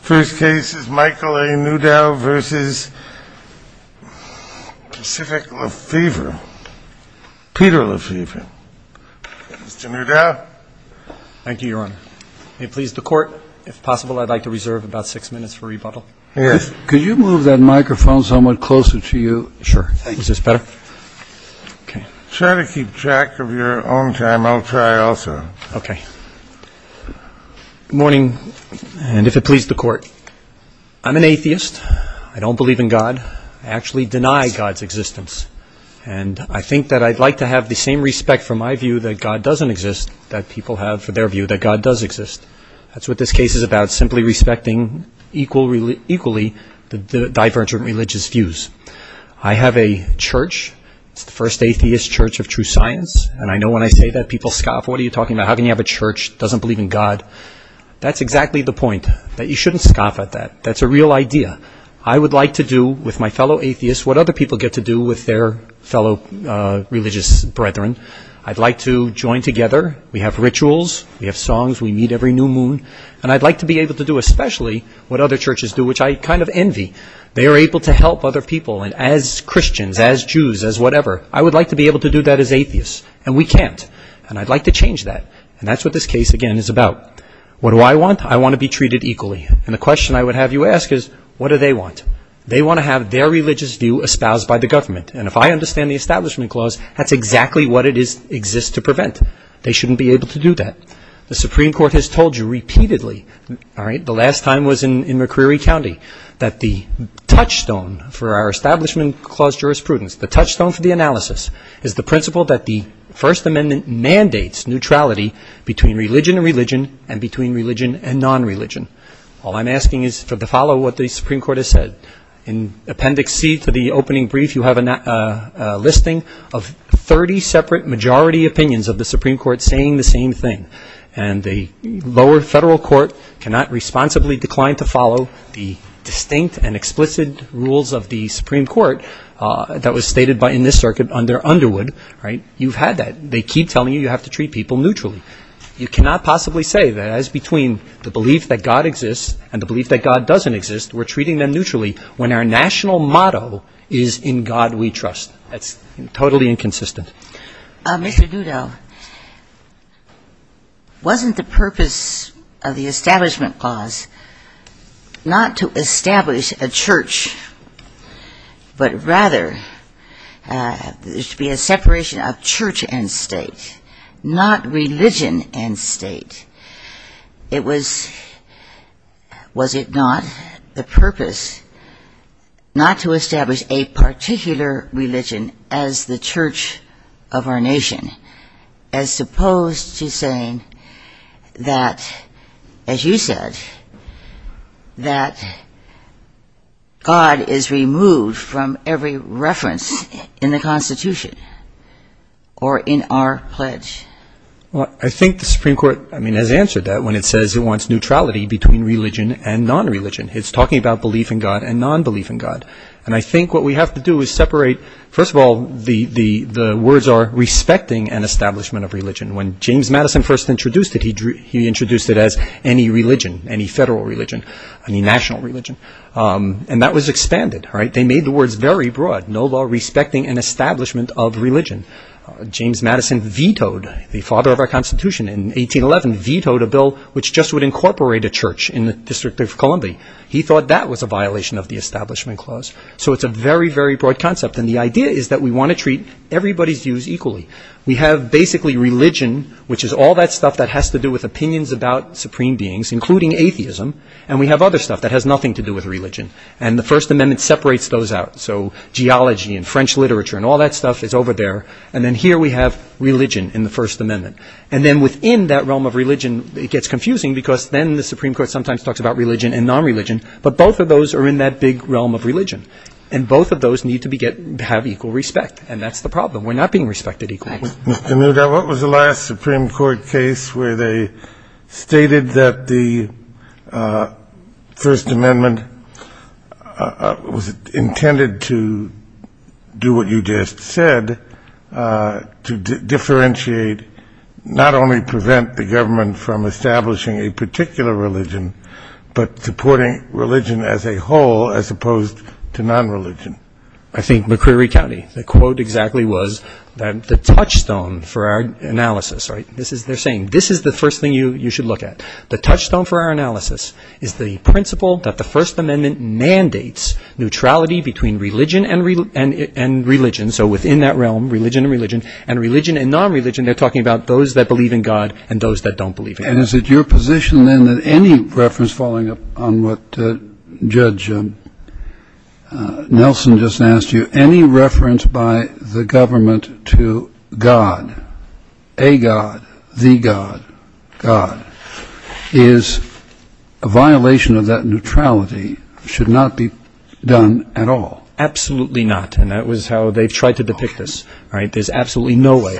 First case is Michael A. Newdow v. Peter Lefevre. Mr. Newdow. Thank you, Your Honor. May it please the Court, if possible, I'd like to reserve about six minutes for rebuttal. Yes. Could you move that microphone somewhat closer to you? Sure. Is this better? Try to keep track of your own time. I'll try also. Okay. Good morning, and if it please the Court, I'm an atheist. I don't believe in God. I actually deny God's existence, and I think that I'd like to have the same respect for my view that God doesn't exist that people have for their view that God does exist. That's what this case is about, simply respecting equally the divergent religious views. I have a church. It's the first atheist church of true science, and I know when I say that people scoff, what are you talking about? How can you have a church that doesn't believe in God? That's exactly the point, that you shouldn't scoff at that. That's a real idea. I would like to do with my fellow atheists what other people get to do with their fellow religious brethren. I'd like to join together. We have rituals. We have songs. We meet every new moon. And I'd like to be able to do especially what other churches do, which I kind of envy. They are able to help other people, and as Christians, as Jews, as whatever, I would like to be able to do that as atheists, and we can't. And I'd like to change that. And that's what this case, again, is about. What do I want? I want to be treated equally. And the question I would have you ask is, what do they want? They want to have their religious view espoused by the government. And if I understand the Establishment Clause, that's exactly what it exists to prevent. They shouldn't be able to do that. The Supreme Court has told you repeatedly, the last time was in McCreary County, that the touchstone for our Establishment Clause jurisprudence, the touchstone for the analysis, is the principle that the First Amendment mandates neutrality between religion and religion and between religion and non-religion. All I'm asking is to follow what the Supreme Court has said. In Appendix C to the opening brief, you have a listing of 30 separate majority opinions of the Supreme Court saying the same thing. And the lower federal court cannot responsibly decline to follow the distinct and explicit rules of the Supreme Court that was stated in this circuit under Underwood, right? You've had that. They keep telling you you have to treat people neutrally. You cannot possibly say that as between the belief that God exists and the belief that God doesn't exist, we're treating them neutrally when our national motto is in God we trust. That's totally inconsistent. Mr. Dudow, wasn't the purpose of the Establishment Clause not to establish a church, but rather there should be a separation of church and state, not religion and state? Was it not the purpose not to establish a particular religion as the church of our nation, as opposed to saying that, as you said, that God is removed from every reference in the Constitution or in our pledge? Well, I think the Supreme Court has answered that when it says it wants neutrality between religion and non-religion. It's talking about belief in God and non-belief in God. And I think what we have to do is separate, first of all, the words are respecting an establishment of religion. When James Madison first introduced it, he introduced it as any religion, any federal religion, any national religion. And that was expanded, right? They made the words very broad, no law respecting an establishment of religion. James Madison vetoed the father of our Constitution in 1811, vetoed a bill which just would incorporate a church in the District of Columbia. He thought that was a violation of the Establishment Clause. So it's a very, very broad concept. And the idea is that we want to treat everybody's views equally. We have basically religion, which is all that stuff that has to do with opinions about supreme beings, including atheism. And we have other stuff that has nothing to do with religion. And the First Amendment separates those out. So geology and French literature and all that stuff is over there. And then here we have religion in the First Amendment. And then within that realm of religion, it gets confusing because then the Supreme Court sometimes talks about religion and non-religion. But both of those are in that big realm of religion. And both of those need to have equal respect. And that's the problem. We're not being respected equally. Mr. Newgar, what was the last Supreme Court case where they stated that the First Amendment was intended to do what you just said, to differentiate, not only prevent the government from establishing a particular religion, but supporting religion as a whole as opposed to non-religion? I think McCreary County. The quote exactly was the touchstone for our analysis. They're saying this is the first thing you should look at. The touchstone for our analysis is the principle that the First Amendment mandates neutrality between religion and religion. So within that realm, religion and religion, and religion and non-religion, they're talking about those that believe in God and those that don't believe in God. And is it your position then that any reference, following up on what Judge Nelson just asked you, any reference by the government to God, a God, the God, God, is a violation of that neutrality, should not be done at all? Absolutely not. And that was how they've tried to depict this. There's absolutely no way.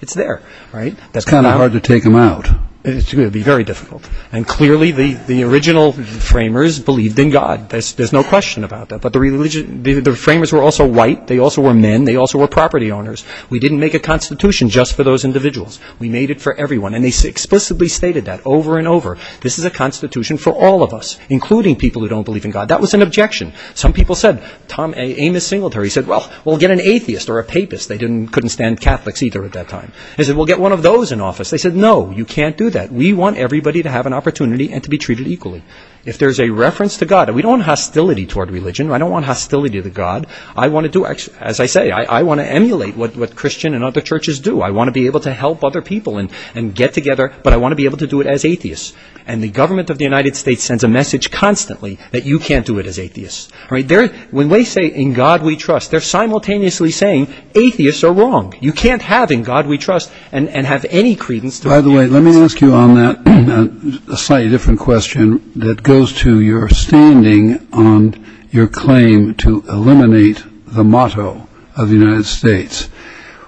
It's there, right? It's kind of hard to take them out. It's going to be very difficult. And clearly the original framers believed in God. There's no question about that. But the framers were also white. They also were men. They also were property owners. We didn't make a constitution just for those individuals. We made it for everyone. And they explicitly stated that over and over. This is a constitution for all of us, including people who don't believe in God. That was an objection. Some people said Tom Amos singled her. He said, well, we'll get an atheist or a papist. They couldn't stand Catholics either at that time. They said, we'll get one of those in office. They said, no, you can't do that. We want everybody to have an opportunity and to be treated equally. If there's a reference to God, we don't want hostility toward religion. I don't want hostility to God. As I say, I want to emulate what Christian and other churches do. I want to be able to help other people and get together, but I want to be able to do it as atheists. And the government of the United States sends a message constantly that you can't do it as atheists. When they say, in God we trust, they're simultaneously saying atheists are wrong. You can't have in God we trust and have any credence. By the way, let me ask you on that a slightly different question that goes to your standing on your claim to eliminate the motto of the United States.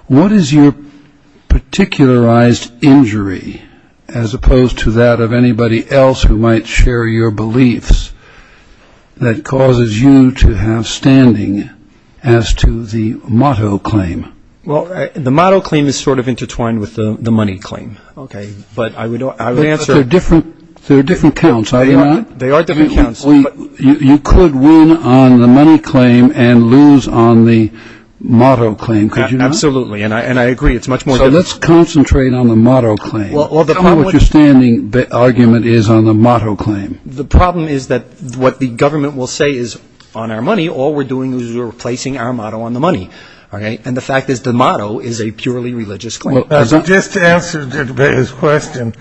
What is your particularized injury, as opposed to that of anybody else who might share your beliefs, that causes you to have standing as to the motto claim? Well, the motto claim is sort of intertwined with the money claim. Okay, but I would answer. But they're different counts, are they not? They are different counts. You could win on the money claim and lose on the motto claim, could you not? Absolutely, and I agree. It's much more difficult. So let's concentrate on the motto claim. How would your standing argument is on the motto claim? The problem is that what the government will say is on our money, all we're doing is replacing our motto on the money. And the fact is the motto is a purely religious claim. Just to answer his question,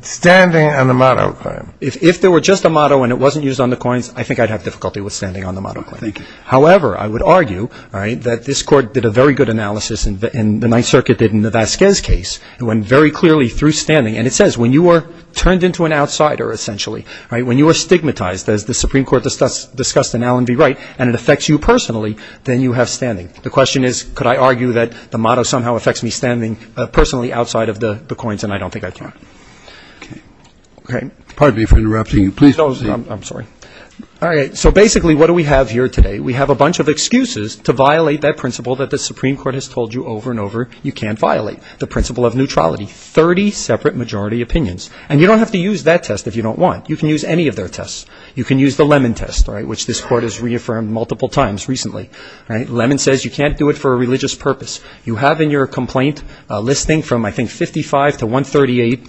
standing on the motto claim. If there were just a motto and it wasn't used on the coins, I think I'd have difficulty with standing on the motto claim. Thank you. However, I would argue that this Court did a very good analysis, and the Ninth Circuit did in the Vasquez case. It went very clearly through standing, and it says when you are turned into an outsider, essentially, when you are stigmatized, as the Supreme Court discussed in Allen v. Wright, and it affects you personally, then you have standing. The question is, could I argue that the motto somehow affects me standing personally outside of the coins, and I don't think I can. Okay. Pardon me for interrupting you. Please proceed. I'm sorry. All right, so basically what do we have here today? We have a bunch of excuses to violate that principle that the Supreme Court has told you over and over you can't violate, the principle of neutrality, 30 separate majority opinions. And you don't have to use that test if you don't want. You can use any of their tests. You can use the Lemon test, which this Court has reaffirmed multiple times recently. Lemon says you can't do it for a religious purpose. You have in your complaint a listing from, I think, 55 to 138.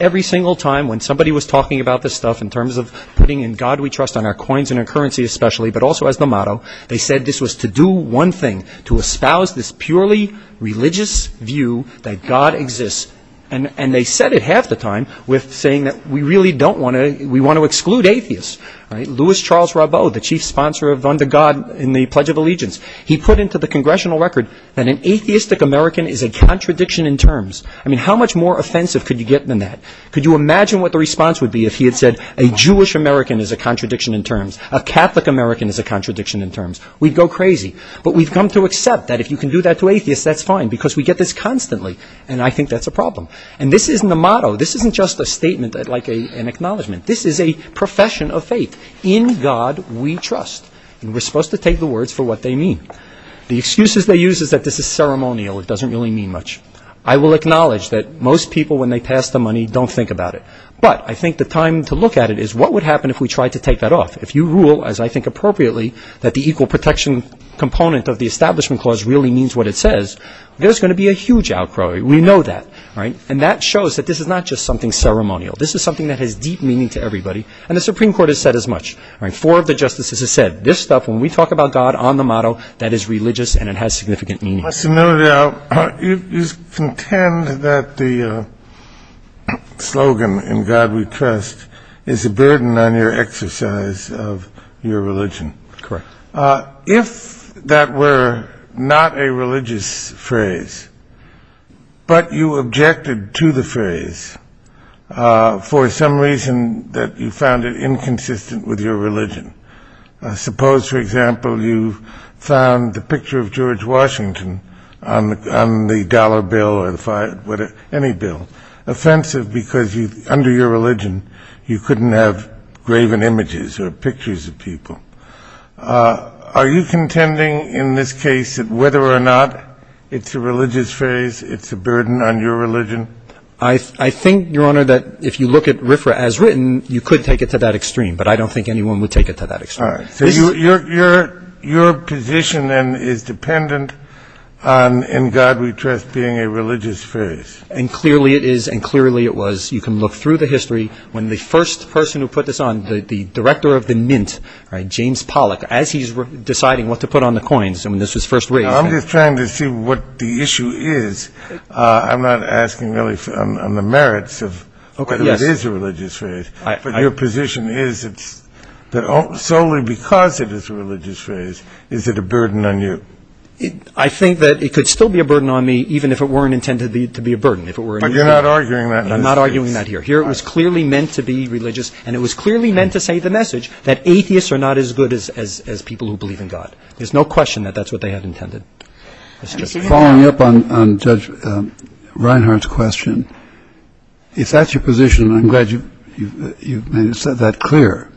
Every single time when somebody was talking about this stuff in terms of putting in God we trust on our coins and our currency especially, but also as the motto, they said this was to do one thing, to espouse this purely religious view that God exists. And they said it half the time with saying that we really don't want to, we want to exclude atheists. All right. Louis Charles Rabeau, the chief sponsor of Under God in the Pledge of Allegiance, he put into the congressional record that an atheistic American is a contradiction in terms. I mean, how much more offensive could you get than that? Could you imagine what the response would be if he had said a Jewish American is a contradiction in terms, a Catholic American is a contradiction in terms? We'd go crazy. But we've come to accept that if you can do that to atheists, that's fine because we get this constantly. And I think that's a problem. And this isn't a motto. This isn't just a statement like an acknowledgement. This is a profession of faith. In God we trust. And we're supposed to take the words for what they mean. The excuses they use is that this is ceremonial. It doesn't really mean much. I will acknowledge that most people, when they pass the money, don't think about it. But I think the time to look at it is what would happen if we tried to take that off? If you rule, as I think appropriately, that the equal protection component of the Establishment Clause really means what it says, there's going to be a huge outcry. We know that. And that shows that this is not just something ceremonial. This is something that has deep meaning to everybody. And the Supreme Court has said as much. Four of the justices have said, this stuff, when we talk about God on the motto, that is religious and it has significant meaning. Mr. Nodal, you contend that the slogan, in God we trust, is a burden on your exercise of your religion. Correct. If that were not a religious phrase, but you objected to the phrase for some reason that you found it inconsistent with your religion. Suppose, for example, you found the picture of George Washington on the dollar bill or any bill offensive because under your religion you couldn't have graven images or pictures of people. Are you contending in this case that whether or not it's a religious phrase, it's a burden on your religion? I think, Your Honor, that if you look at RFRA as written, you could take it to that extreme. But I don't think anyone would take it to that extreme. All right. So your position, then, is dependent on in God we trust being a religious phrase. And clearly it is and clearly it was. You can look through the history when the first person who put this on, the director of the Mint, James Pollock, as he's deciding what to put on the coins when this was first raised. I'm just trying to see what the issue is. I'm not asking really on the merits of whether it is a religious phrase. But your position is that solely because it is a religious phrase, is it a burden on you? I think that it could still be a burden on me even if it weren't intended to be a burden. But you're not arguing that. I'm not arguing that here. Here it was clearly meant to be religious and it was clearly meant to say the message that atheists are not as good as people who believe in God. There's no question that that's what they had intended. Following up on Judge Reinhart's question, if that's your position, I'm glad you've made that clear.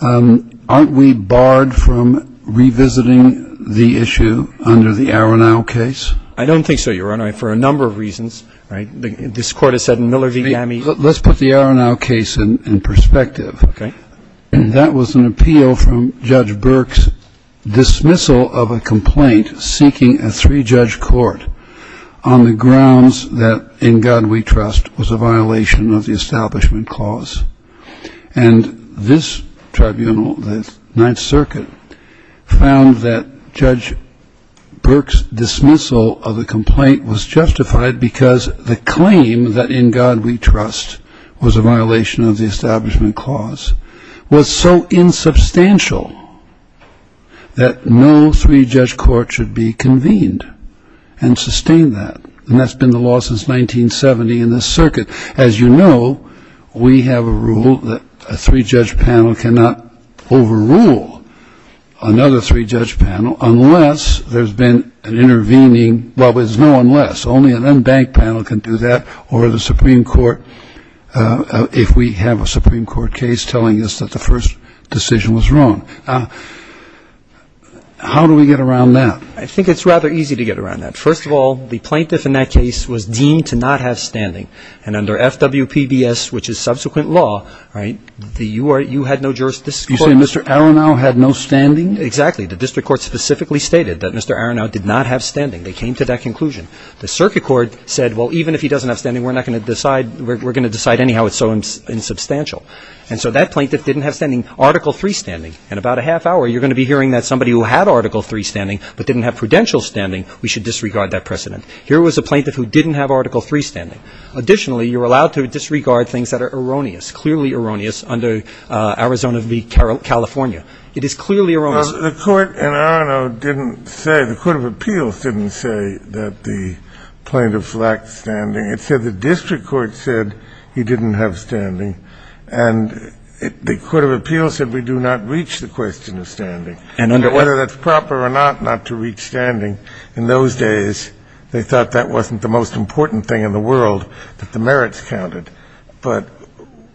Aren't we barred from revisiting the issue under the Aronau case? I don't think so, Your Honor, for a number of reasons. This Court has said in Miller v. Ammi. Let's put the Aronau case in perspective. Okay. That was an appeal from Judge Burke's dismissal of a complaint seeking a three-judge court on the grounds that In God We Trust was a violation of the Establishment Clause. And this tribunal, the Ninth Circuit, found that Judge Burke's dismissal of the complaint was justified because the claim that In God We Trust was a violation of the Establishment Clause was so insubstantial that no three-judge court should be convened and sustain that. And that's been the law since 1970 in this circuit. As you know, we have a rule that a three-judge panel cannot overrule another three-judge panel unless there's been an intervening, well, there's no unless. Only an unbanked panel can do that or the Supreme Court, if we have a Supreme Court case telling us that the first decision was wrong. Now, how do we get around that? I think it's rather easy to get around that. First of all, the plaintiff in that case was deemed to not have standing. And under FWPBS, which is subsequent law, right, you had no jurisdiction. You're saying Mr. Aronow had no standing? Exactly. The district court specifically stated that Mr. Aronow did not have standing. They came to that conclusion. The circuit court said, well, even if he doesn't have standing, we're not going to decide we're going to decide anyhow it's so insubstantial. And so that plaintiff didn't have standing, Article III standing. In about a half hour, you're going to be hearing that somebody who had Article III standing but didn't have prudential standing, we should disregard that precedent. Here was a plaintiff who didn't have Article III standing. Additionally, you're allowed to disregard things that are erroneous, clearly erroneous under Arizona v. California. It is clearly erroneous. The court in Aronow didn't say, the court of appeals didn't say that the plaintiff lacked standing. It said the district court said he didn't have standing. And the court of appeals said we do not reach the question of standing. And whether that's proper or not, not to reach standing, in those days, they thought that wasn't the most important thing in the world, that the merits counted. But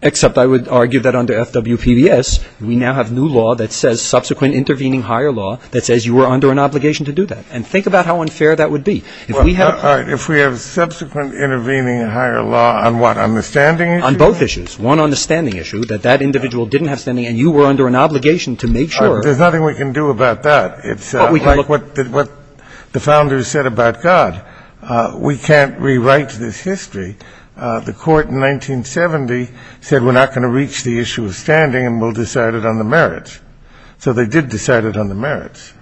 Except I would argue that under FWPBS, we now have new law that says subsequent intervening higher law that says you were under an obligation to do that. And think about how unfair that would be. All right. If we have subsequent intervening higher law on what? On the standing issue? On both issues. One on the standing issue, that that individual didn't have standing and you were under an obligation to make sure There's nothing we can do about that. It's like what the founders said about God. We can't rewrite this history. The court in 1970 said we're not going to reach the issue of standing and we'll decide it on the merits. So they did decide it on the merits.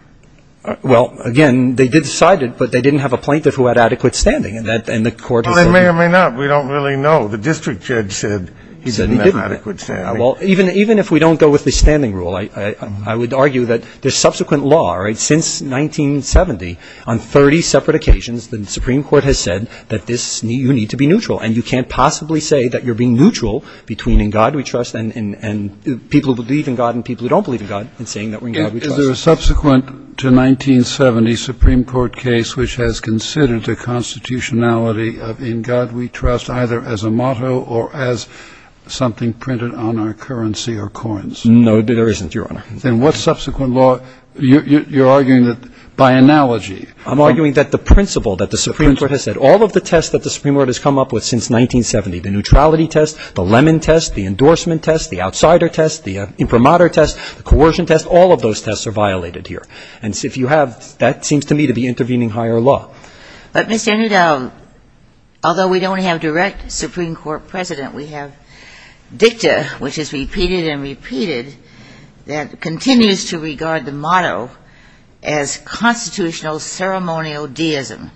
Well, again, they did decide it, but they didn't have a plaintiff who had adequate standing. And the court Well, they may or may not. We don't really know. The district judge said he didn't have adequate standing. Well, even if we don't go with the standing rule, I would argue that the subsequent law, right, since 1970, on 30 separate occasions, the Supreme Court has said that you need to be neutral. And you can't possibly say that you're being neutral between in God we trust and people who believe in God and people who don't believe in God in saying that we're in God we trust. Is there a subsequent to 1970 Supreme Court case which has considered the constitutionality of in God we trust either as a motto or as something printed on our currency or coins? No, there isn't, Your Honor. Then what subsequent law, you're arguing that by analogy I'm arguing that the principle that the Supreme Court has said, all of the tests that the Supreme Court has come up with since 1970, the neutrality test, the lemon test, the endorsement test, the outsider test, the imprimatur test, the coercion test, all of those tests are violated here. And if you have, that seems to me to be intervening higher law. But, Mr. Henry Dowell, although we don't have direct Supreme Court precedent, we have dicta, which is repeated and repeated, that continues to regard the motto as constitutional ceremonial deism.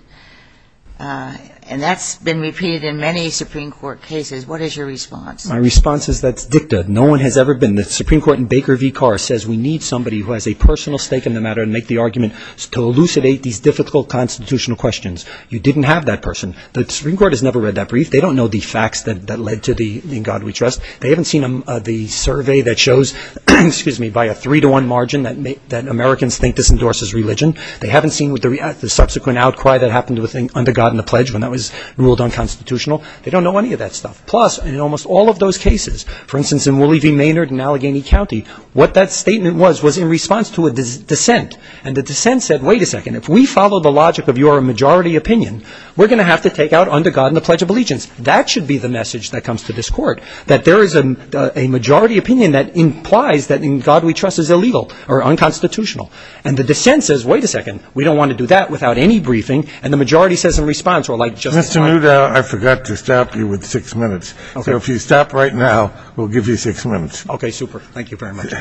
And that's been repeated in many Supreme Court cases. What is your response? My response is that's dicta. No one has ever been. The Supreme Court in Baker v. Carr says we need somebody who has a personal stake in the matter and make the argument to elucidate these difficult constitutional questions. You didn't have that person. The Supreme Court has never read that brief. They don't know the facts that led to the In God We Trust. They haven't seen the survey that shows, excuse me, by a three-to-one margin that Americans think this endorses religion. They haven't seen the subsequent outcry that happened with Under God and the Pledge when that was ruled unconstitutional. They don't know any of that stuff. Plus, in almost all of those cases, for instance, in Wooley v. Maynard in Allegheny County, what that statement was was in response to a dissent. And the dissent said, wait a second, if we follow the logic of your majority opinion, we're going to have to take out Under God and the Pledge of Allegiance. That should be the message that comes to this court, that there is a majority opinion that implies that In God We Trust is illegal or unconstitutional. And the dissent says, wait a second, we don't want to do that without any briefing. And the majority says in response, well, like Justice Breyer. Mr. Muta, I forgot to stop you with six minutes. Okay. So if you stop right now, we'll give you six minutes. Okay, super. Thank you very much.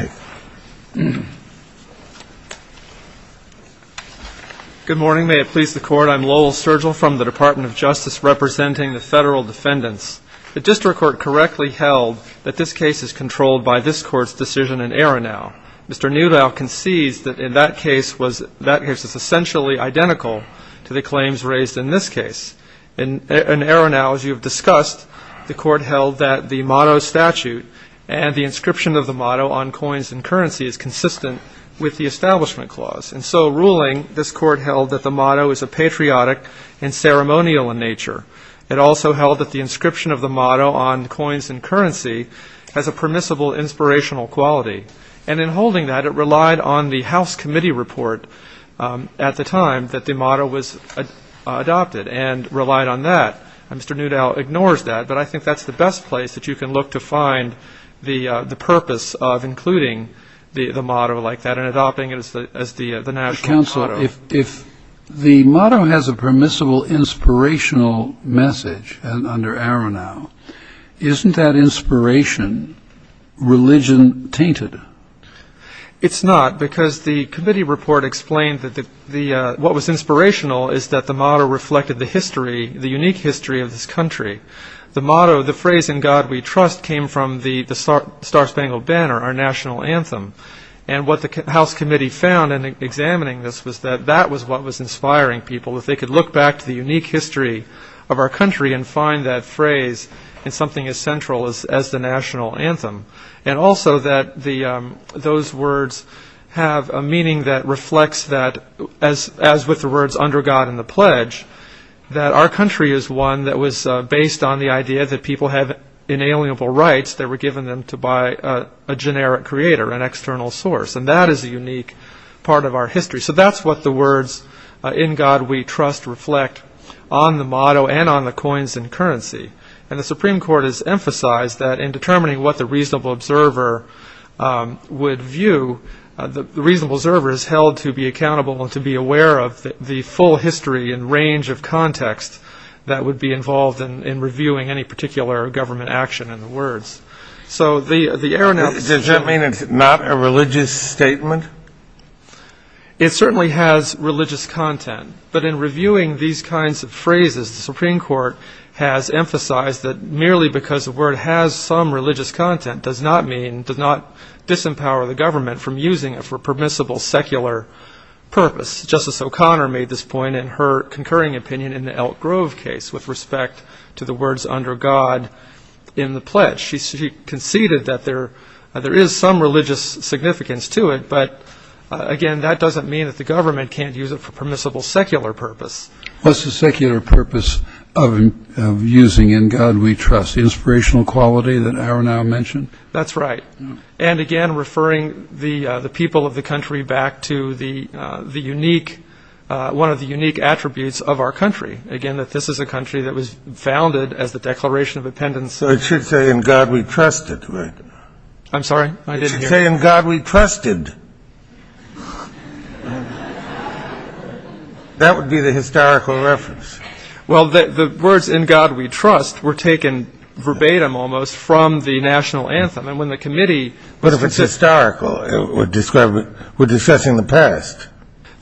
Good morning. May it please the Court. I'm Lowell Sergel from the Department of Justice, representing the federal defendants. The district court correctly held that this case is controlled by this court's decision in Aronow. Mr. Newdow concedes that in that case, it's essentially identical to the claims raised in this case. In Aronow, as you have discussed, the court held that the motto statute and the inscription of the motto on coins and currency is consistent with the Establishment Clause. And so ruling, this court held that the motto is a patriotic and ceremonial in nature. It also held that the inscription of the motto on coins and currency has a permissible inspirational quality. And in holding that, it relied on the House committee report at the time that the motto was adopted and relied on that. Mr. Newdow ignores that, but I think that's the best place that you can look to find the purpose of including the motto like that and adopting it as the national motto. Counsel, if the motto has a permissible inspirational message under Aronow, isn't that inspiration religion-tainted? It's not, because the committee report explained that what was inspirational is that the motto reflected the history, the unique history of this country. The motto, the phrase, in God we trust, came from the Star-Spangled Banner, our national anthem. And what the House committee found in examining this was that that was what was inspiring people, that they could look back to the unique history of our country and find that phrase in something as central as the national anthem. And also that those words have a meaning that reflects that, as with the words under God and the pledge, that our country is one that was based on the idea that people have inalienable rights that were given them by a generic creator, an external source. And that is a unique part of our history. So that's what the words in God we trust reflect on the motto and on the coins and currency. And the Supreme Court has emphasized that in determining what the reasonable observer would view, the reasonable observer is held to be accountable and to be aware of the full history and range of context that would be involved in using those words. So the air- Does that mean it's not a religious statement? It certainly has religious content. But in reviewing these kinds of phrases, the Supreme Court has emphasized that merely because the word has some religious content does not mean, does not disempower the government from using it for permissible secular purpose. Justice O'Connor made this point in her concurring opinion in the Elk Grove case with respect to the words under God in the pledge. She conceded that there is some religious significance to it. But, again, that doesn't mean that the government can't use it for permissible secular purpose. What's the secular purpose of using in God we trust, the inspirational quality that Aronau mentioned? That's right. And, again, referring the people of the country back to the unique, one of the unique attributes of our country, again, that this is a country that was founded as the Declaration of Independence. So it should say in God we trust it, right? I'm sorry? It should say in God we trusted. That would be the historical reference. Well, the words in God we trust were taken verbatim almost from the National Anthem. And when the committee- But if it's historical, we're discussing the past.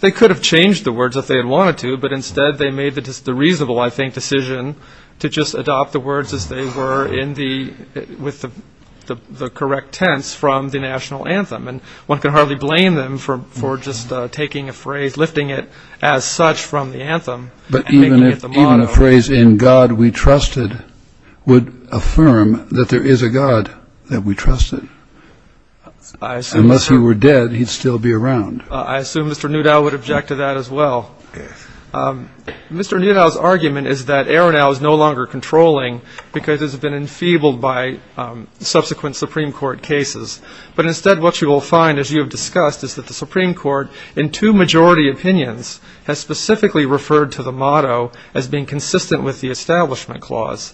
They could have changed the words if they had wanted to. But, instead, they made the reasonable, I think, decision to just adopt the words as they were with the correct tense from the National Anthem. And one can hardly blame them for just taking a phrase, lifting it as such from the anthem and making it the motto. But even a phrase in God we trusted would affirm that there is a God that we trusted. I assume so. Unless he were dead, he'd still be around. I assume Mr. Newdow would object to that as well. Yes. Mr. Newdow's argument is that Aronau is no longer controlling because it's been enfeebled by subsequent Supreme Court cases. But, instead, what you will find, as you have discussed, is that the Supreme Court, in two majority opinions, has specifically referred to the motto as being consistent with the Establishment Clause.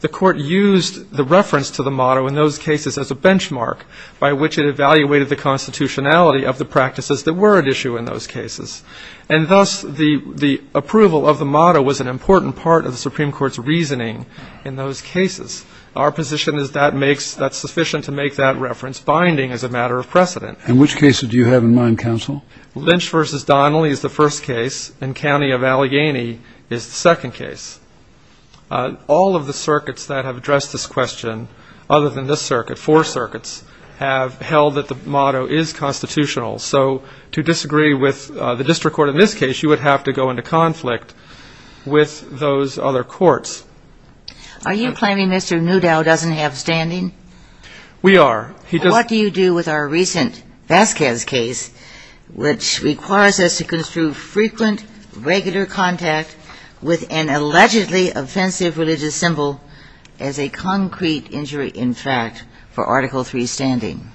The Court used the reference to the motto in those cases as a benchmark by which it evaluated the constitutionality of the practices that were at issue in those cases. And, thus, the approval of the motto was an important part of the Supreme Court's reasoning in those cases. Our position is that that's sufficient to make that reference, binding as a matter of precedent. And which cases do you have in mind, counsel? Lynch v. Donnelly is the first case, and County of Allegheny is the second case. All of the circuits that have addressed this question, other than this circuit, four circuits, have held that the motto is constitutional. So, to disagree with the district court in this case, you would have to go into conflict with those other courts. Are you claiming Mr. Newdow doesn't have standing? We are. What do you do with our recent Vasquez case, which requires us to construe frequent, regular contact with an allegedly offensive religious symbol as a concrete injury, in fact, for Article III standing?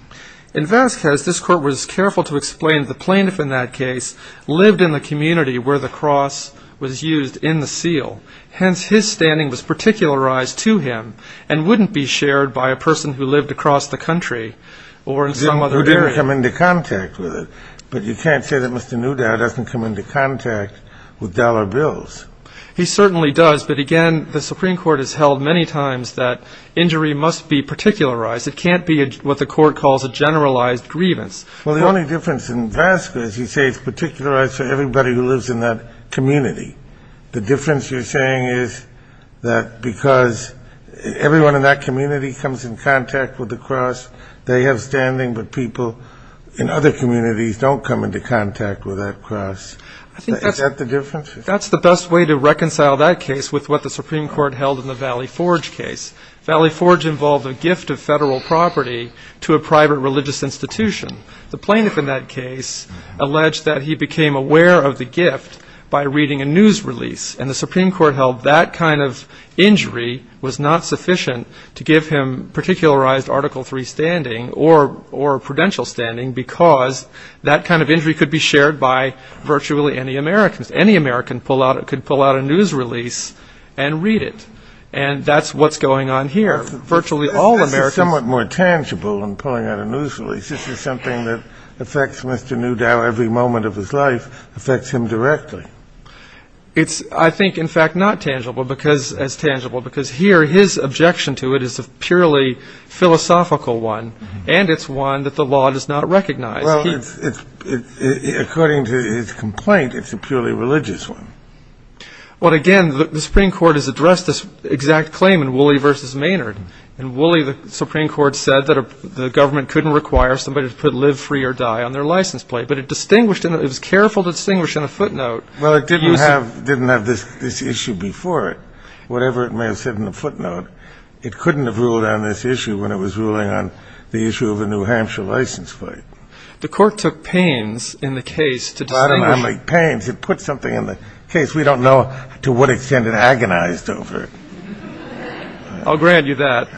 In Vasquez, this court was careful to explain the plaintiff in that case lived in the community where the cross was used in the seal. Hence, his standing was particularized to him and wouldn't be shared by a person who lived across the country or in some other area. Who didn't come into contact with it. But you can't say that Mr. Newdow doesn't come into contact with dollar bills. He certainly does. But, again, the Supreme Court has held many times that injury must be particularized. It can't be what the court calls a generalized grievance. Well, the only difference in Vasquez, you say, is it's particularized to everybody who lives in that community. The difference you're saying is that because everyone in that community comes in contact with the cross, they have standing, but people in other communities don't come into contact with that cross. Is that the difference? That's the best way to reconcile that case with what the Supreme Court held in the Valley Forge case. Valley Forge involved a gift of federal property to a private religious institution. The plaintiff in that case alleged that he became aware of the gift by reading a news release. And the Supreme Court held that kind of injury was not sufficient to give him particularized Article III standing or prudential standing because that kind of injury could be shared by virtually any American. Any American could pull out a news release and read it. And that's what's going on here. Virtually all Americans. This is somewhat more tangible than pulling out a news release. This is something that affects Mr. Newdow every moment of his life, affects him directly. It's, I think, in fact, not as tangible because here his objection to it is a purely philosophical one, and it's one that the law does not recognize. Well, according to his complaint, it's a purely religious one. Well, again, the Supreme Court has addressed this exact claim in Woolley v. Maynard. In Woolley, the Supreme Court said that the government couldn't require somebody to put live, free, or die on their license plate, but it distinguished in that it was careful to distinguish in a footnote. Well, it didn't have this issue before it. Whatever it may have said in the footnote, it couldn't have ruled on this issue when it was ruling on the issue of a New Hampshire license plate. The court took pains in the case to distinguish. It put something in the case. We don't know to what extent it agonized over it. I'll grant you that.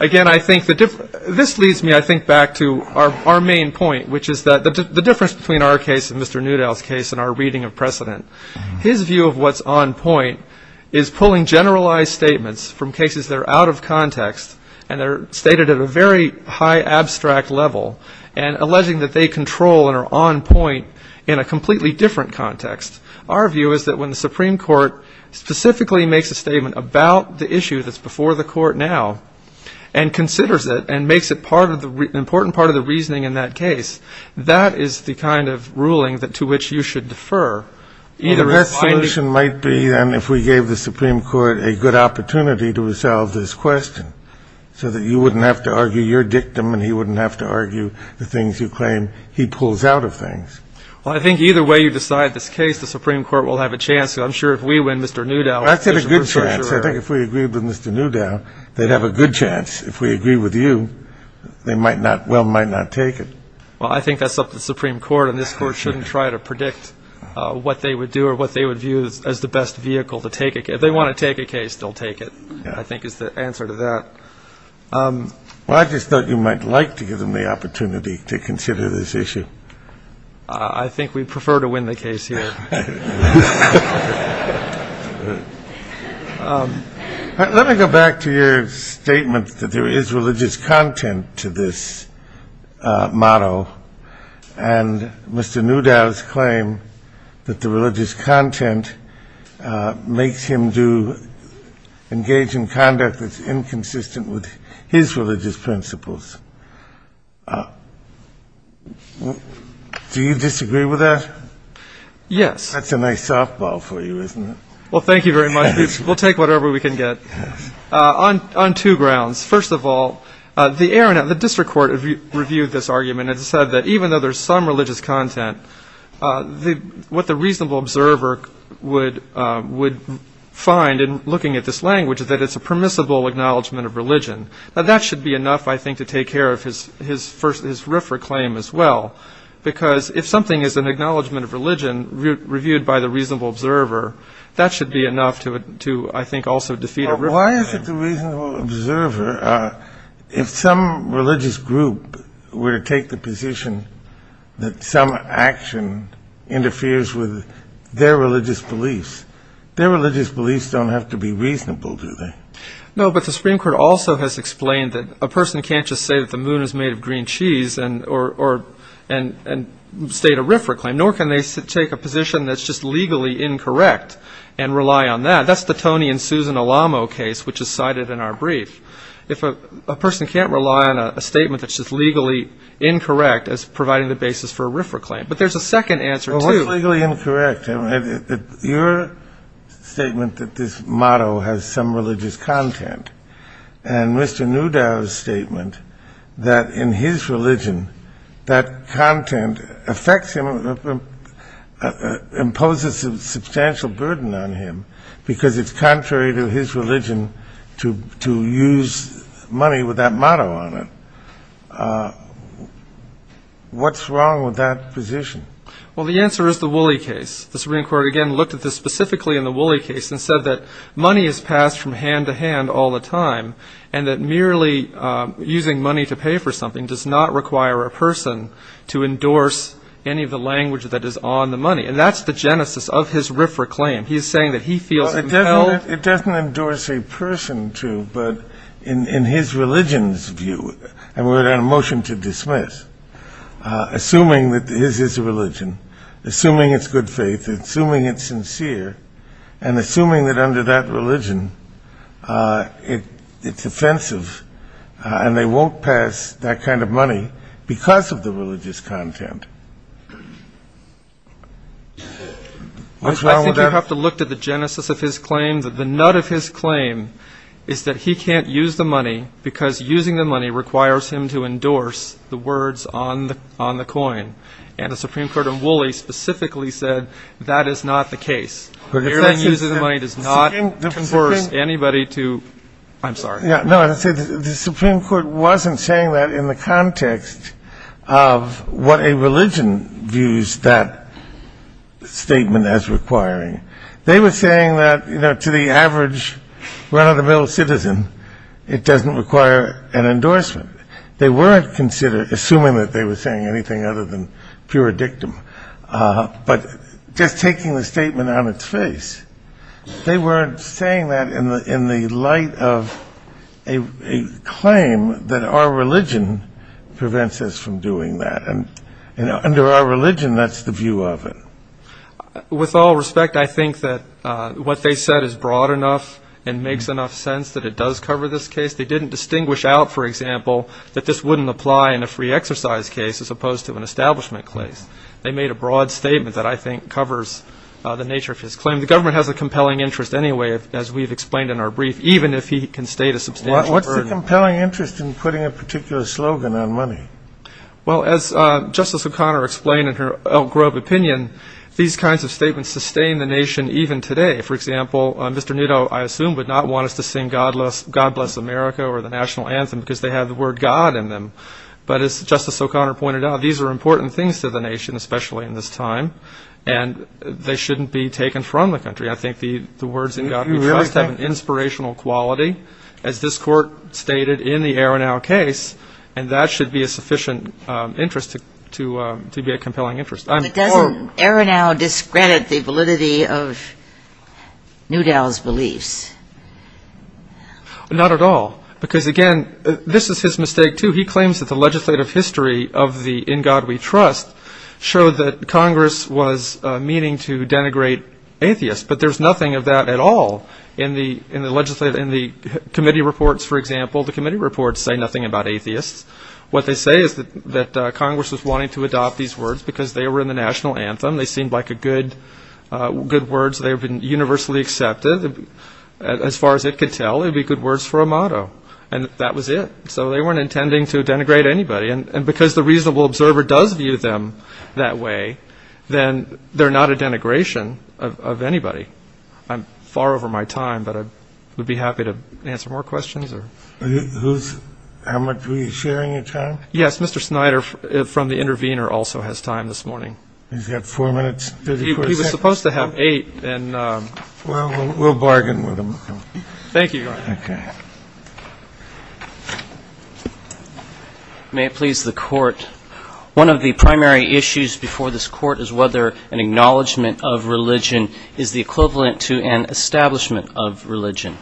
Again, I think this leads me, I think, back to our main point, which is the difference between our case and Mr. Newdow's case and our reading of precedent. His view of what's on point is pulling generalized statements from cases that are out of context and are stated at a very high abstract level and alleging that they control and are on point in a completely different context. Our view is that when the Supreme Court specifically makes a statement about the issue that's before the court now and considers it and makes it an important part of the reasoning in that case, that is the kind of ruling to which you should defer. Well, the best solution might be, then, if we gave the Supreme Court a good opportunity to resolve this question so that you wouldn't have to argue your dictum and he wouldn't have to argue the things you claim he pulls out of things. Well, I think either way you decide this case, the Supreme Court will have a chance. I'm sure if we win, Mr. Newdow... I said a good chance. I think if we agree with Mr. Newdow, they'd have a good chance. If we agree with you, they might not, well, might not take it. Well, I think that's up to the Supreme Court, and this Court shouldn't try to predict what they would do or what they would view as the best vehicle to take a case. If they want to take a case, they'll take it, I think is the answer to that. Well, I just thought you might like to give them the opportunity to consider this issue. I think we prefer to win the case here. Let me go back to your statement that there is religious content to this motto, and Mr. Newdow's claim that the religious content makes him engage in conduct that's inconsistent with his religious principles. Do you disagree with that? Yes. That's a nice softball for you, isn't it? Well, thank you very much. We'll take whatever we can get on two grounds. First of all, the district court reviewed this argument and said that even though there's some religious content, what the reasonable observer would find in looking at this language is that it's a permissible acknowledgment of religion. Now, that should be enough, I think, to take care of his RFRA claim as well, because if something is an acknowledgment of religion reviewed by the reasonable observer, that should be enough to, I think, also defeat RFRA. Well, why is it the reasonable observer, if some religious group were to take the position that some action interferes with their religious beliefs, their religious beliefs don't have to be reasonable, do they? No, but the Supreme Court also has explained that a person can't just say that the moon is made of green cheese and state a RFRA claim, nor can they take a position that's just legally incorrect and rely on that. Now, that's the Tony and Susan Alamo case, which is cited in our brief. If a person can't rely on a statement that's just legally incorrect as providing the basis for a RFRA claim. But there's a second answer, too. Well, what's legally incorrect? Your statement that this motto has some religious content and Mr. Newdow's statement that in his religion, that content imposes a substantial burden on him because it's contrary to his religion to use money with that motto on it. What's wrong with that position? Well, the answer is the Woolley case. The Supreme Court, again, looked at this specifically in the Woolley case and said that money is passed from hand to hand all the time and that merely using money to pay for something does not require a person to endorse any of the language that is on the money. And that's the genesis of his RFRA claim. He's saying that he feels compelled. It doesn't endorse a person to, but in his religion's view, and we're on a motion to dismiss, assuming that this is a religion, assuming it's good faith, assuming it's sincere, and assuming that under that religion it's offensive and they won't pass that kind of money because of the religious content. What's wrong with that? I think you have to look to the genesis of his claim. The nut of his claim is that he can't use the money because using the money requires him to endorse the words on the coin. And the Supreme Court in Woolley specifically said that is not the case. Merely using the money does not force anybody to. I'm sorry. No, the Supreme Court wasn't saying that in the context of what a religion views that statement as requiring. They were saying that, you know, to the average run-of-the-mill citizen, it doesn't require an endorsement. They weren't assuming that they were saying anything other than pure dictum. But just taking the statement on its face, they weren't saying that in the light of a claim that our religion prevents us from doing that. And under our religion, that's the view of it. With all respect, I think that what they said is broad enough and makes enough sense that it does cover this case. They didn't distinguish out, for example, that this wouldn't apply in a free exercise case as opposed to an establishment case. They made a broad statement that I think covers the nature of his claim. The government has a compelling interest anyway, as we've explained in our brief, even if he can state a substantial burden. What's the compelling interest in putting a particular slogan on money? Well, as Justice O'Connor explained in her Elk Grove opinion, these kinds of statements sustain the nation even today. For example, Mr. Nitto, I assume, would not want us to sing God Bless America or the National Anthem because they have the word God in them. But as Justice O'Connor pointed out, these are important things to the nation, especially in this time, and they shouldn't be taken from the country. I think the words in God Bless America have an inspirational quality, as this Court stated in the Arenow case, and that should be a sufficient interest to be a compelling interest. But doesn't Arenow discredit the validity of Newdow's beliefs? Not at all, because, again, this is his mistake, too. He claims that the legislative history of the In God We Trust showed that Congress was meaning to denigrate atheists, but there's nothing of that at all in the committee reports, for example. The committee reports say nothing about atheists. What they say is that Congress was wanting to adopt these words because they were in the National Anthem. They seemed like good words. They have been universally accepted. As far as it could tell, it would be good words for a motto, and that was it. So they weren't intending to denigrate anybody, and because the reasonable observer does view them that way, then they're not a denigration of anybody. I'm far over my time, but I would be happy to answer more questions. How much were you sharing your time? Yes, Mr. Snyder from The Intervener also has time this morning. He's got four minutes, 34 seconds. He was supposed to have eight. Well, we'll bargain with him. Thank you, Your Honor. Okay. May it please the Court, one of the primary issues before this Court is whether an acknowledgment of religion is the equivalent to an establishment of religion.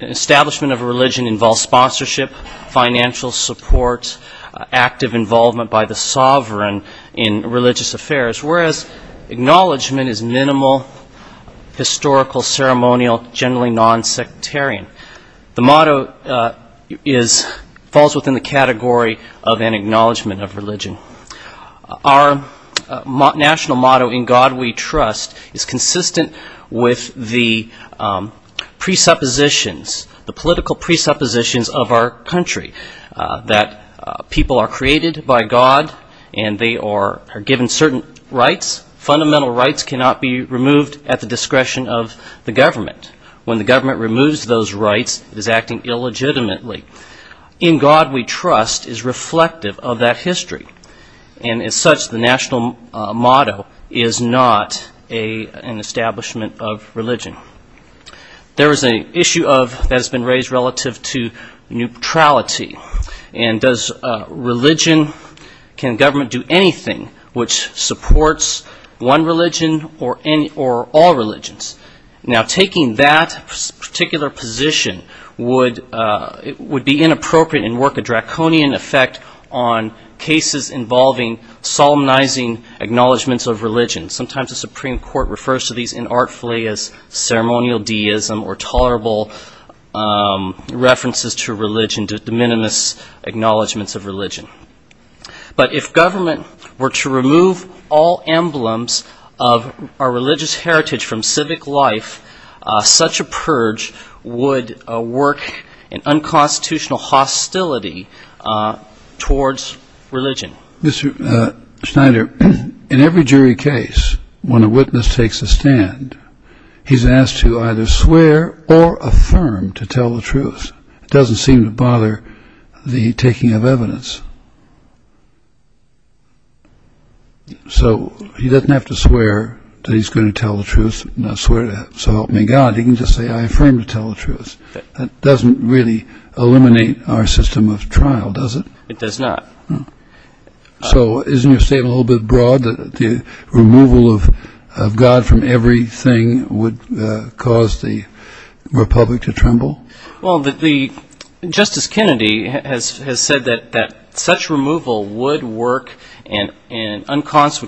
Establishment of a religion involves sponsorship, financial support, active involvement by the sovereign in religious affairs, whereas acknowledgment is minimal, historical, ceremonial, generally nonsectarian. The motto falls within the category of an acknowledgment of religion. Our national motto, In God We Trust, is consistent with the presuppositions, the political presuppositions of our country, that people are created by God and they are given certain rights. Fundamental rights cannot be removed at the discretion of the government. When the government removes those rights, it is acting illegitimately. In God We Trust is reflective of that history, and as such the national motto is not an establishment of religion. There is an issue that has been raised relative to neutrality, and does religion, can government do anything which supports one religion or all religions? Now, taking that particular position would be inappropriate and work a draconian effect on cases involving solemnizing acknowledgments of religion. Sometimes the Supreme Court refers to these inartfully as ceremonial deism or tolerable references to religion, to de minimis acknowledgments of religion. But if government were to remove all emblems of our religious heritage from civic life, such a purge would work an unconstitutional hostility towards religion. Mr. Schneider, in every jury case, when a witness takes a stand, he's asked to either swear or affirm to tell the truth. It doesn't seem to bother the taking of evidence. So he doesn't have to swear that he's going to tell the truth, so help me God, he can just say, I affirm to tell the truth. That doesn't really eliminate our system of trial, does it? It does not. So isn't your statement a little bit broad, that the removal of God from everything would cause the republic to tremble? Well, Justice Kennedy has said that such removal would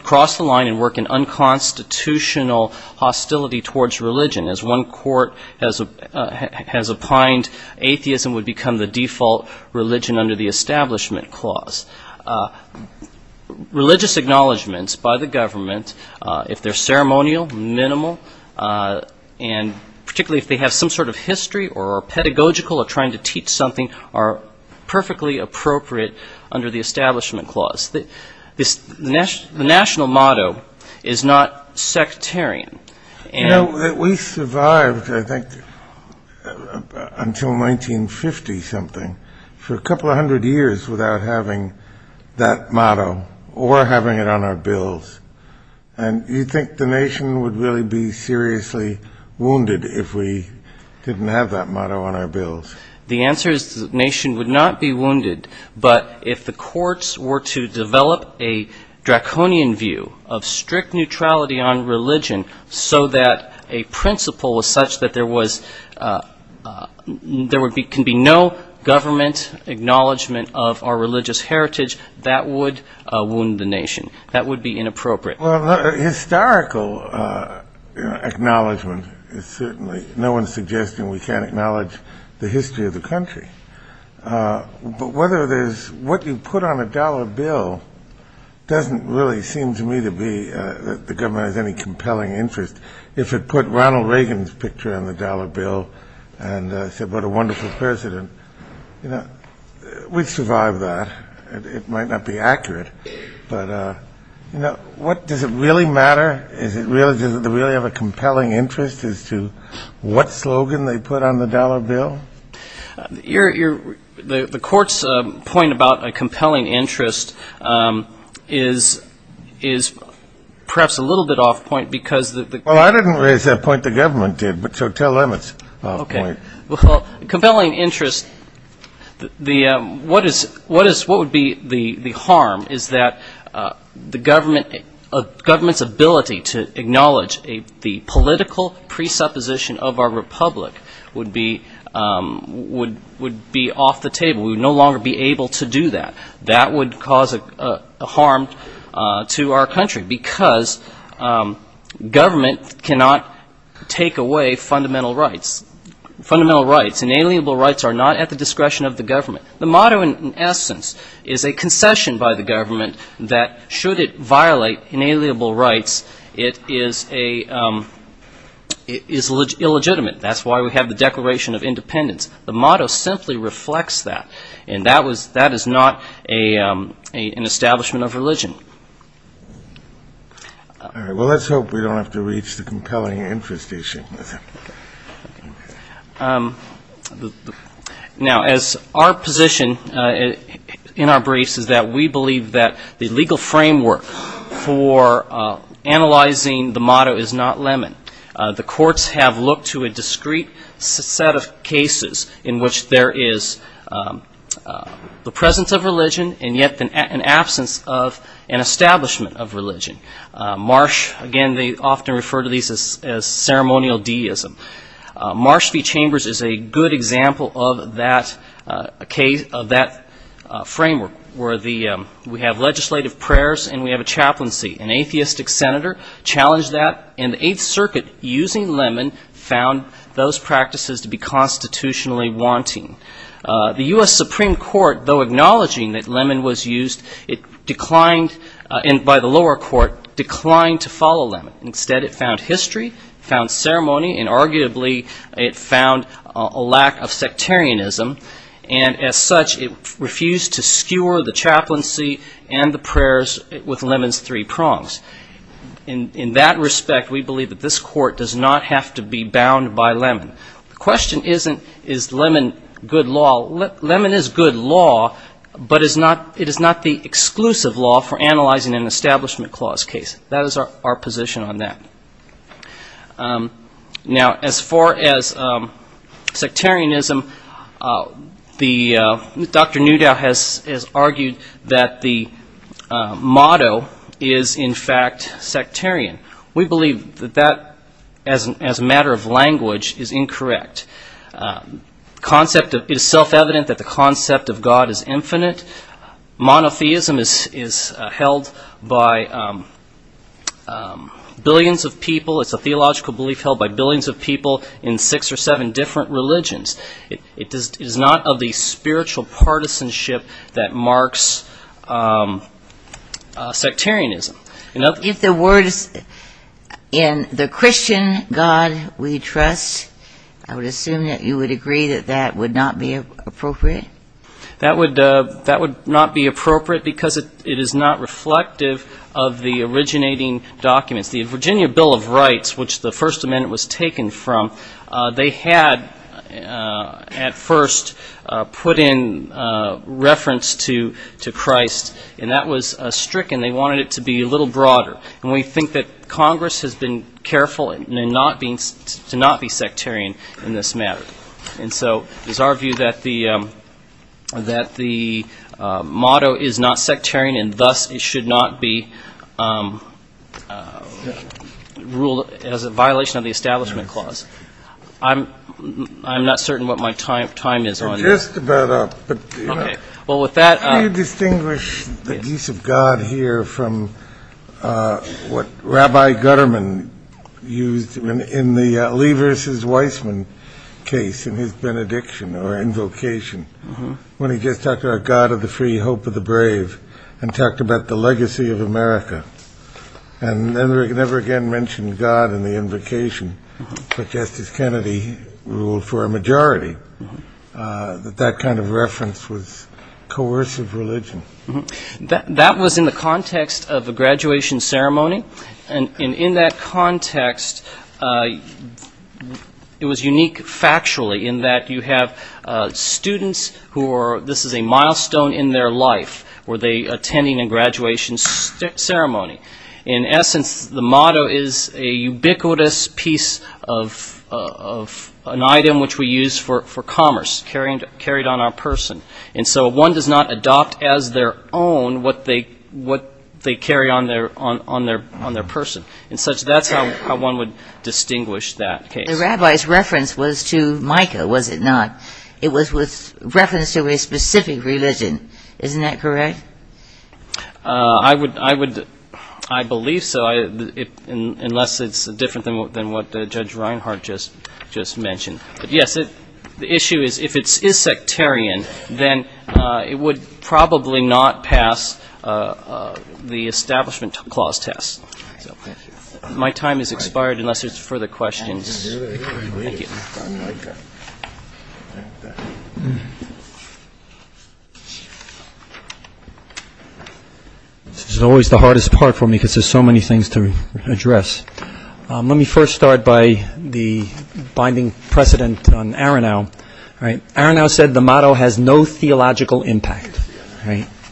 cross the line and work an unconstitutional hostility towards religion. As one court has opined, atheism would become the default religion under the Establishment Clause. Religious acknowledgments by the government, if they're ceremonial, minimal, and particularly if they have some sort of history or are pedagogical or trying to teach something, are perfectly appropriate under the Establishment Clause. The national motto is not sectarian. You know, we survived, I think, until 1950-something, for a couple of hundred years without having that motto or having it on our bills. And you think the nation would really be seriously wounded if we didn't have that motto on our bills? The answer is the nation would not be wounded, but if the courts were to develop a draconian view of strict neutrality on religion so that a principle was such that there can be no government acknowledgment of our religious heritage, that would wound the nation. That would be inappropriate. Well, historical acknowledgment is certainly no one suggesting we can't acknowledge the history of the country. But what you put on a dollar bill doesn't really seem to me to be that the government has any compelling interest. If it put Ronald Reagan's picture on the dollar bill and said, what a wonderful president, we'd survive that. It might not be accurate, but does it really matter? Does it really have a compelling interest as to what slogan they put on the dollar bill? The court's point about a compelling interest is perhaps a little bit off point because the ‑‑ Well, I didn't raise that point. The government did, but so tell them it's off point. Okay. Well, compelling interest, what would be the harm is that the government's ability to acknowledge the political presupposition of our republic would be off the table. We would no longer be able to do that. That would cause a harm to our country because government cannot take away fundamental rights. Fundamental rights, inalienable rights are not at the discretion of the government. The motto in essence is a concession by the government that should it violate inalienable rights, it is illegitimate. That's why we have the Declaration of Independence. The motto simply reflects that, and that is not an establishment of religion. All right. Well, let's hope we don't have to reach the compelling interest issue. Now, as our position in our briefs is that we believe that the legal framework for analyzing the motto is not lemon. The courts have looked to a discrete set of cases in which there is the presence of religion and yet an absence of an establishment of religion. Marsh, again, they often refer to these as ceremonial deism. Marsh v. Chambers is a good example of that framework where we have legislative prayers and we have a chaplaincy. An atheistic senator challenged that, and the Eighth Circuit, using lemon, found those practices to be constitutionally wanting. The U.S. Supreme Court, though acknowledging that lemon was used, it declined, and by the lower court, declined to follow lemon. Instead, it found history, it found ceremony, and arguably it found a lack of sectarianism, and as such it refused to skewer the chaplaincy and the prayers with lemon's three prongs. In that respect, we believe that this court does not have to be bound by lemon. The question isn't, is lemon good law? Lemon is good law, but it is not the exclusive law for analyzing an Establishment Clause case. That is our position on that. Now, as far as sectarianism, Dr. Newdow has argued that the motto is, in fact, sectarian. We believe that that, as a matter of language, is incorrect. It is self-evident that the concept of God is infinite. Monotheism is held by billions of people. It's a theological belief held by billions of people in six or seven different religions. It is not of the spiritual partisanship that marks sectarianism. If the word is, in the Christian God we trust, I would assume that you would agree that that would not be appropriate? That would not be appropriate because it is not reflective of the originating documents. The Virginia Bill of Rights, which the First Amendment was taken from, they had at first put in reference to Christ, and that was stricken. And they wanted it to be a little broader. And we think that Congress has been careful to not be sectarian in this matter. And so it is our view that the motto is not sectarian, and thus it should not be ruled as a violation of the Establishment Clause. I'm not certain what my time is on that. Can you distinguish the use of God here from what Rabbi Gutterman used in the Lee v. Weissman case in his benediction or invocation when he just talked about God of the free, hope of the brave and talked about the legacy of America and never again mentioned God in the invocation, but Justice Kennedy ruled for a majority that that kind of reference was coercive religion? That was in the context of a graduation ceremony. And in that context, it was unique factually in that you have students who are, this is a milestone in their life, were they attending a graduation ceremony. In essence, the motto is a ubiquitous piece of an item which we use for commerce, carried on our person. And so one does not adopt as their own what they carry on their person. And so that's how one would distinguish that case. The rabbi's reference was to Micah, was it not? It was with reference to a specific religion. Isn't that correct? I believe so, unless it's different than what Judge Reinhart just mentioned. Yes, the issue is if it is sectarian, then it would probably not pass the Establishment Clause test. My time has expired unless there's further questions. Thank you. This is always the hardest part for me because there's so many things to address. Let me first start by the binding precedent on Aronow. Aronow said the motto has no theological impact.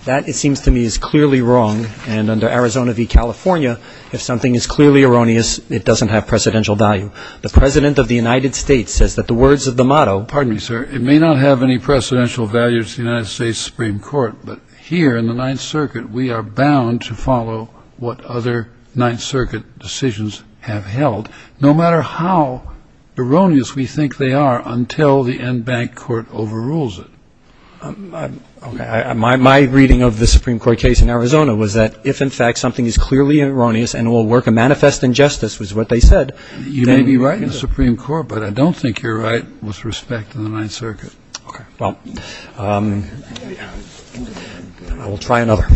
That, it seems to me, is clearly wrong. And under Arizona v. California, if something is clearly erroneous, it doesn't have precedential value. The President of the United States says that the words of the motto… Pardon me, sir. It may not have any precedential value to the United States Supreme Court, but here in the Ninth Circuit, we are bound to follow what other Ninth Circuit decisions have held, no matter how erroneous we think they are until the end bank court overrules it. My reading of the Supreme Court case in Arizona was that if, in fact, something is clearly erroneous and will work a manifest injustice was what they said. You may be right in the Supreme Court, but I don't think you're right with respect to the Ninth Circuit. Okay. Well, I will try another.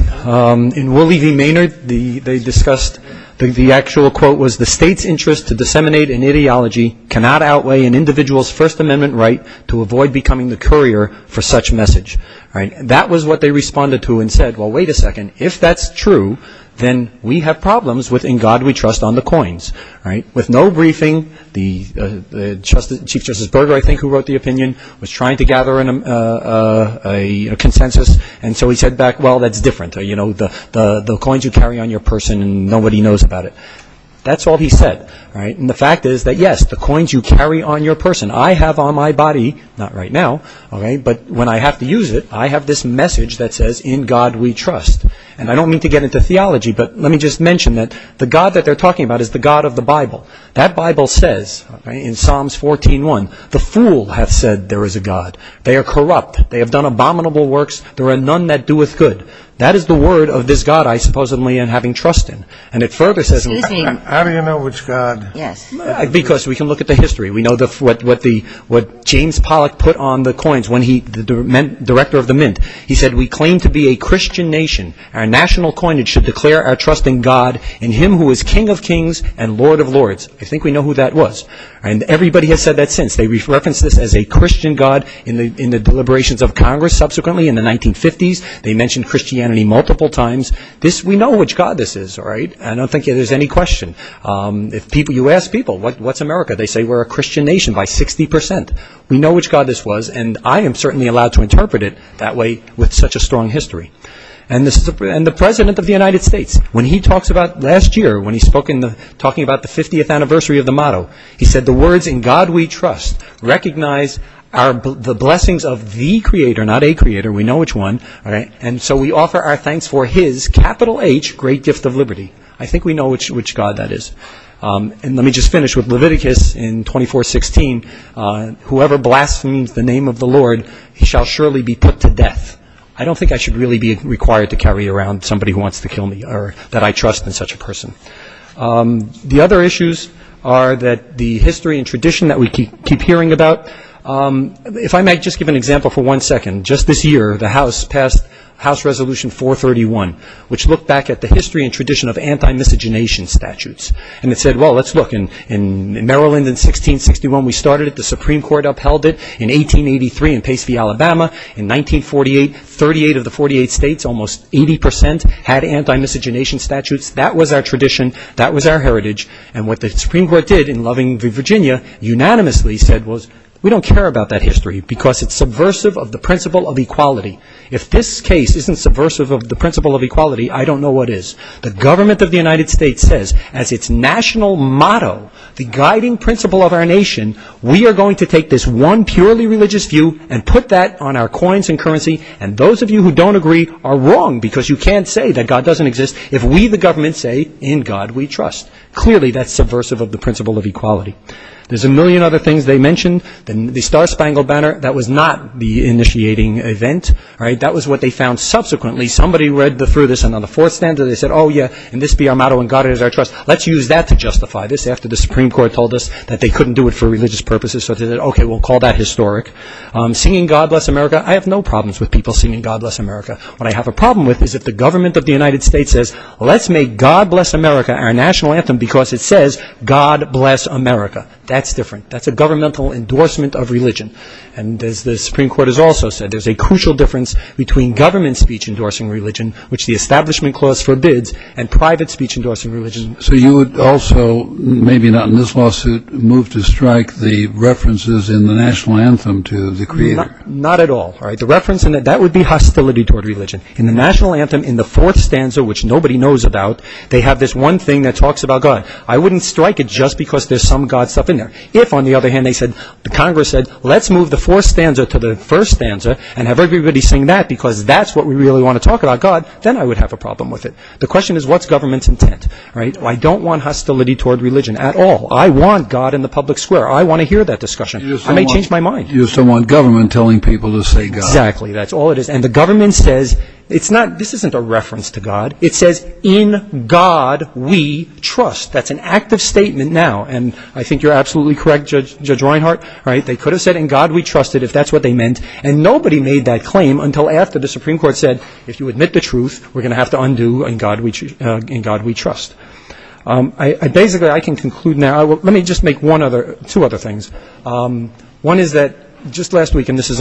In Wooley v. Maynard, they discussed the actual quote was, the state's interest to disseminate an ideology cannot outweigh an individual's First Amendment right to avoid becoming the courier for such message. That was what they responded to and said, well, wait a second. If that's true, then we have problems with In God We Trust on the coins. With no briefing, Chief Justice Berger, I think, who wrote the opinion, was trying to gather a consensus. And so he said back, well, that's different. The coins you carry on your person and nobody knows about it. That's all he said. And the fact is that, yes, the coins you carry on your person, I have on my body, not right now, but when I have to use it, I have this message that says, In God We Trust. And I don't mean to get into theology, but let me just mention that the God that they're talking about is the God of the Bible. That Bible says, in Psalms 14.1, the fool hath said there is a God. They are corrupt. They have done abominable works. There are none that doeth good. That is the word of this God I supposedly am having trust in. And it further says, How do you know which God? Because we can look at the history. We know what James Pollock put on the coins when he was director of the Mint. He said, We claim to be a Christian nation. Our national coinage should declare our trust in God, in Him who is King of kings and Lord of lords. I think we know who that was. And everybody has said that since. They've referenced this as a Christian God in the deliberations of Congress subsequently in the 1950s. They mentioned Christianity multiple times. We know which God this is. I don't think there's any question. You ask people, what's America? They say we're a Christian nation by 60%. We know which God this was. And I am certainly allowed to interpret it that way with such a strong history. And the President of the United States, when he talks about last year, when he's talking about the 50th anniversary of the motto, he said, The words in God we trust recognize the blessings of the Creator, not a creator. We know which one. And so we offer our thanks for His, capital H, great gift of liberty. I think we know which God that is. And let me just finish with Leviticus in 2416, whoever blasphemes the name of the Lord, he shall surely be put to death. I don't think I should really be required to carry around somebody who wants to kill me or that I trust in such a person. The other issues are that the history and tradition that we keep hearing about. If I might just give an example for one second. Just this year, the House passed House Resolution 431, which looked back at the history and tradition of anti-miscegenation statutes. And it said, Well, let's look. In Maryland in 1661, we started it. The Supreme Court upheld it. In 1883 in Pace v. Alabama, in 1948, 38 of the 48 states, almost 80 percent had anti-miscegenation statutes. That was our tradition. That was our heritage. And what the Supreme Court did in Loving v. Virginia, unanimously said was, We don't care about that history because it's subversive of the principle of equality. If this case isn't subversive of the principle of equality, I don't know what is. The government of the United States says, as its national motto, the guiding principle of our nation, we are going to take this one purely religious view and put that on our coins and currency. And those of you who don't agree are wrong because you can't say that God doesn't exist if we the government say, In God we trust. Clearly, that's subversive of the principle of equality. There's a million other things they mentioned. The Star Spangled Banner, that was not the initiating event. That was what they found subsequently. Somebody read through this and on the fourth standard they said, Oh yeah, and this be our motto in God is our trust. Let's use that to justify this after the Supreme Court told us that they couldn't do it for religious purposes. So they said, Okay, we'll call that historic. Singing God Bless America. I have no problems with people singing God Bless America. What I have a problem with is if the government of the United States says, Let's make God Bless America our national anthem because it says, God Bless America. That's different. That's a governmental endorsement of religion. And as the Supreme Court has also said, there's a crucial difference between government speech endorsing religion, which the Establishment Clause forbids, and private speech endorsing religion. So you would also, maybe not in this lawsuit, move to strike the references in the national anthem to the Creator? Not at all. The reference, that would be hostility toward religion. In the national anthem, in the fourth stanza, which nobody knows about, they have this one thing that talks about God. I wouldn't strike it just because there's some God stuff in there. If, on the other hand, the Congress said, Let's move the fourth stanza to the first stanza and have everybody sing that because that's what we really want to talk about, God, then I would have a problem with it. The question is, what's government's intent? I don't want hostility toward religion at all. I want God in the public square. I want to hear that discussion. I may change my mind. You just don't want government telling people to say God. Exactly. That's all it is. And the government says, this isn't a reference to God. It says, In God We Trust. That's an active statement now. And I think you're absolutely correct, Judge Reinhart. They could have said, In God We Trust, if that's what they meant. And nobody made that claim until after the Supreme Court said, If you admit the truth, we're going to have to undo In God We Trust. Basically, I can conclude now. Let me just make two other things. One is that just last week, and this is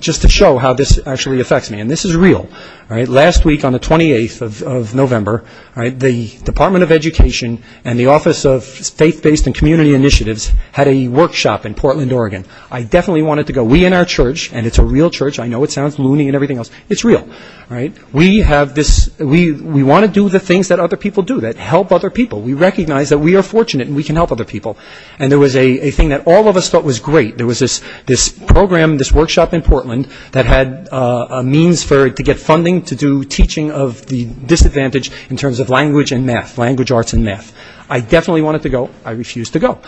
just to show how this actually affects me, and this is real, last week on the 28th of November, the Department of Education and the Office of Faith-Based and Community Initiatives had a workshop in Portland, Oregon. I definitely wanted to go. We in our church, and it's a real church. I know it sounds loony and everything else. It's real. We want to do the things that other people do, that help other people. We recognize that we are fortunate and we can help other people. And there was a thing that all of us thought was great. There was this program, this workshop in Portland that had a means to get funding to do teaching of the disadvantaged in terms of language and math, language arts and math. I definitely wanted to go. I refused to go.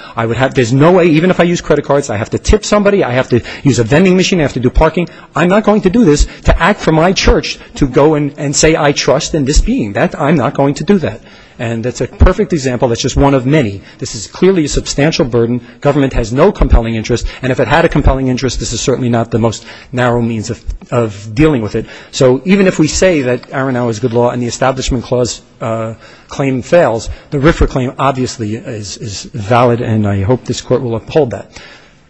There's no way, even if I use credit cards, I have to tip somebody. I have to use a vending machine. I have to do parking. I'm not going to do this to act for my church to go and say I trust in this being. I'm not going to do that. And that's a perfect example. That's just one of many. This is clearly a substantial burden. Government has no compelling interest. And if it had a compelling interest, this is certainly not the most narrow means of dealing with it. So even if we say that Aronow is good law and the Establishment Clause claim fails, the RFRA claim obviously is valid and I hope this court will uphold that.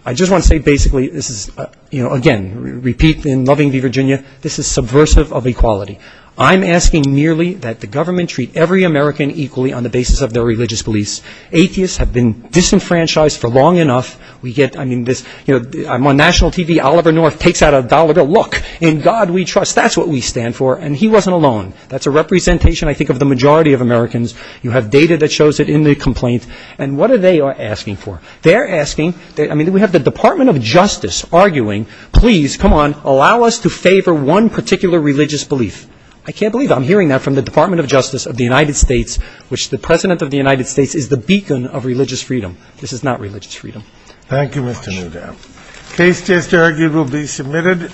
I just want to say basically this is, again, repeat in loving Virginia, this is subversive of equality. I'm asking merely that the government treat every American equally on the basis of their religious beliefs. Atheists have been disenfranchised for long enough. I'm on national TV. Oliver North takes out a dollar bill. Look, in God we trust. That's what we stand for. And he wasn't alone. That's a representation, I think, of the majority of Americans. You have data that shows it in the complaint. And what are they asking for? They're asking, I mean, we have the Department of Justice arguing, please, come on, allow us to favor one particular religious belief. I can't believe I'm hearing that from the Department of Justice of the United States, which the President of the United States is the beacon of religious freedom. This is not religious freedom. Thank you, Mr. Mugabe. Thank you. Case just argued will be submitted.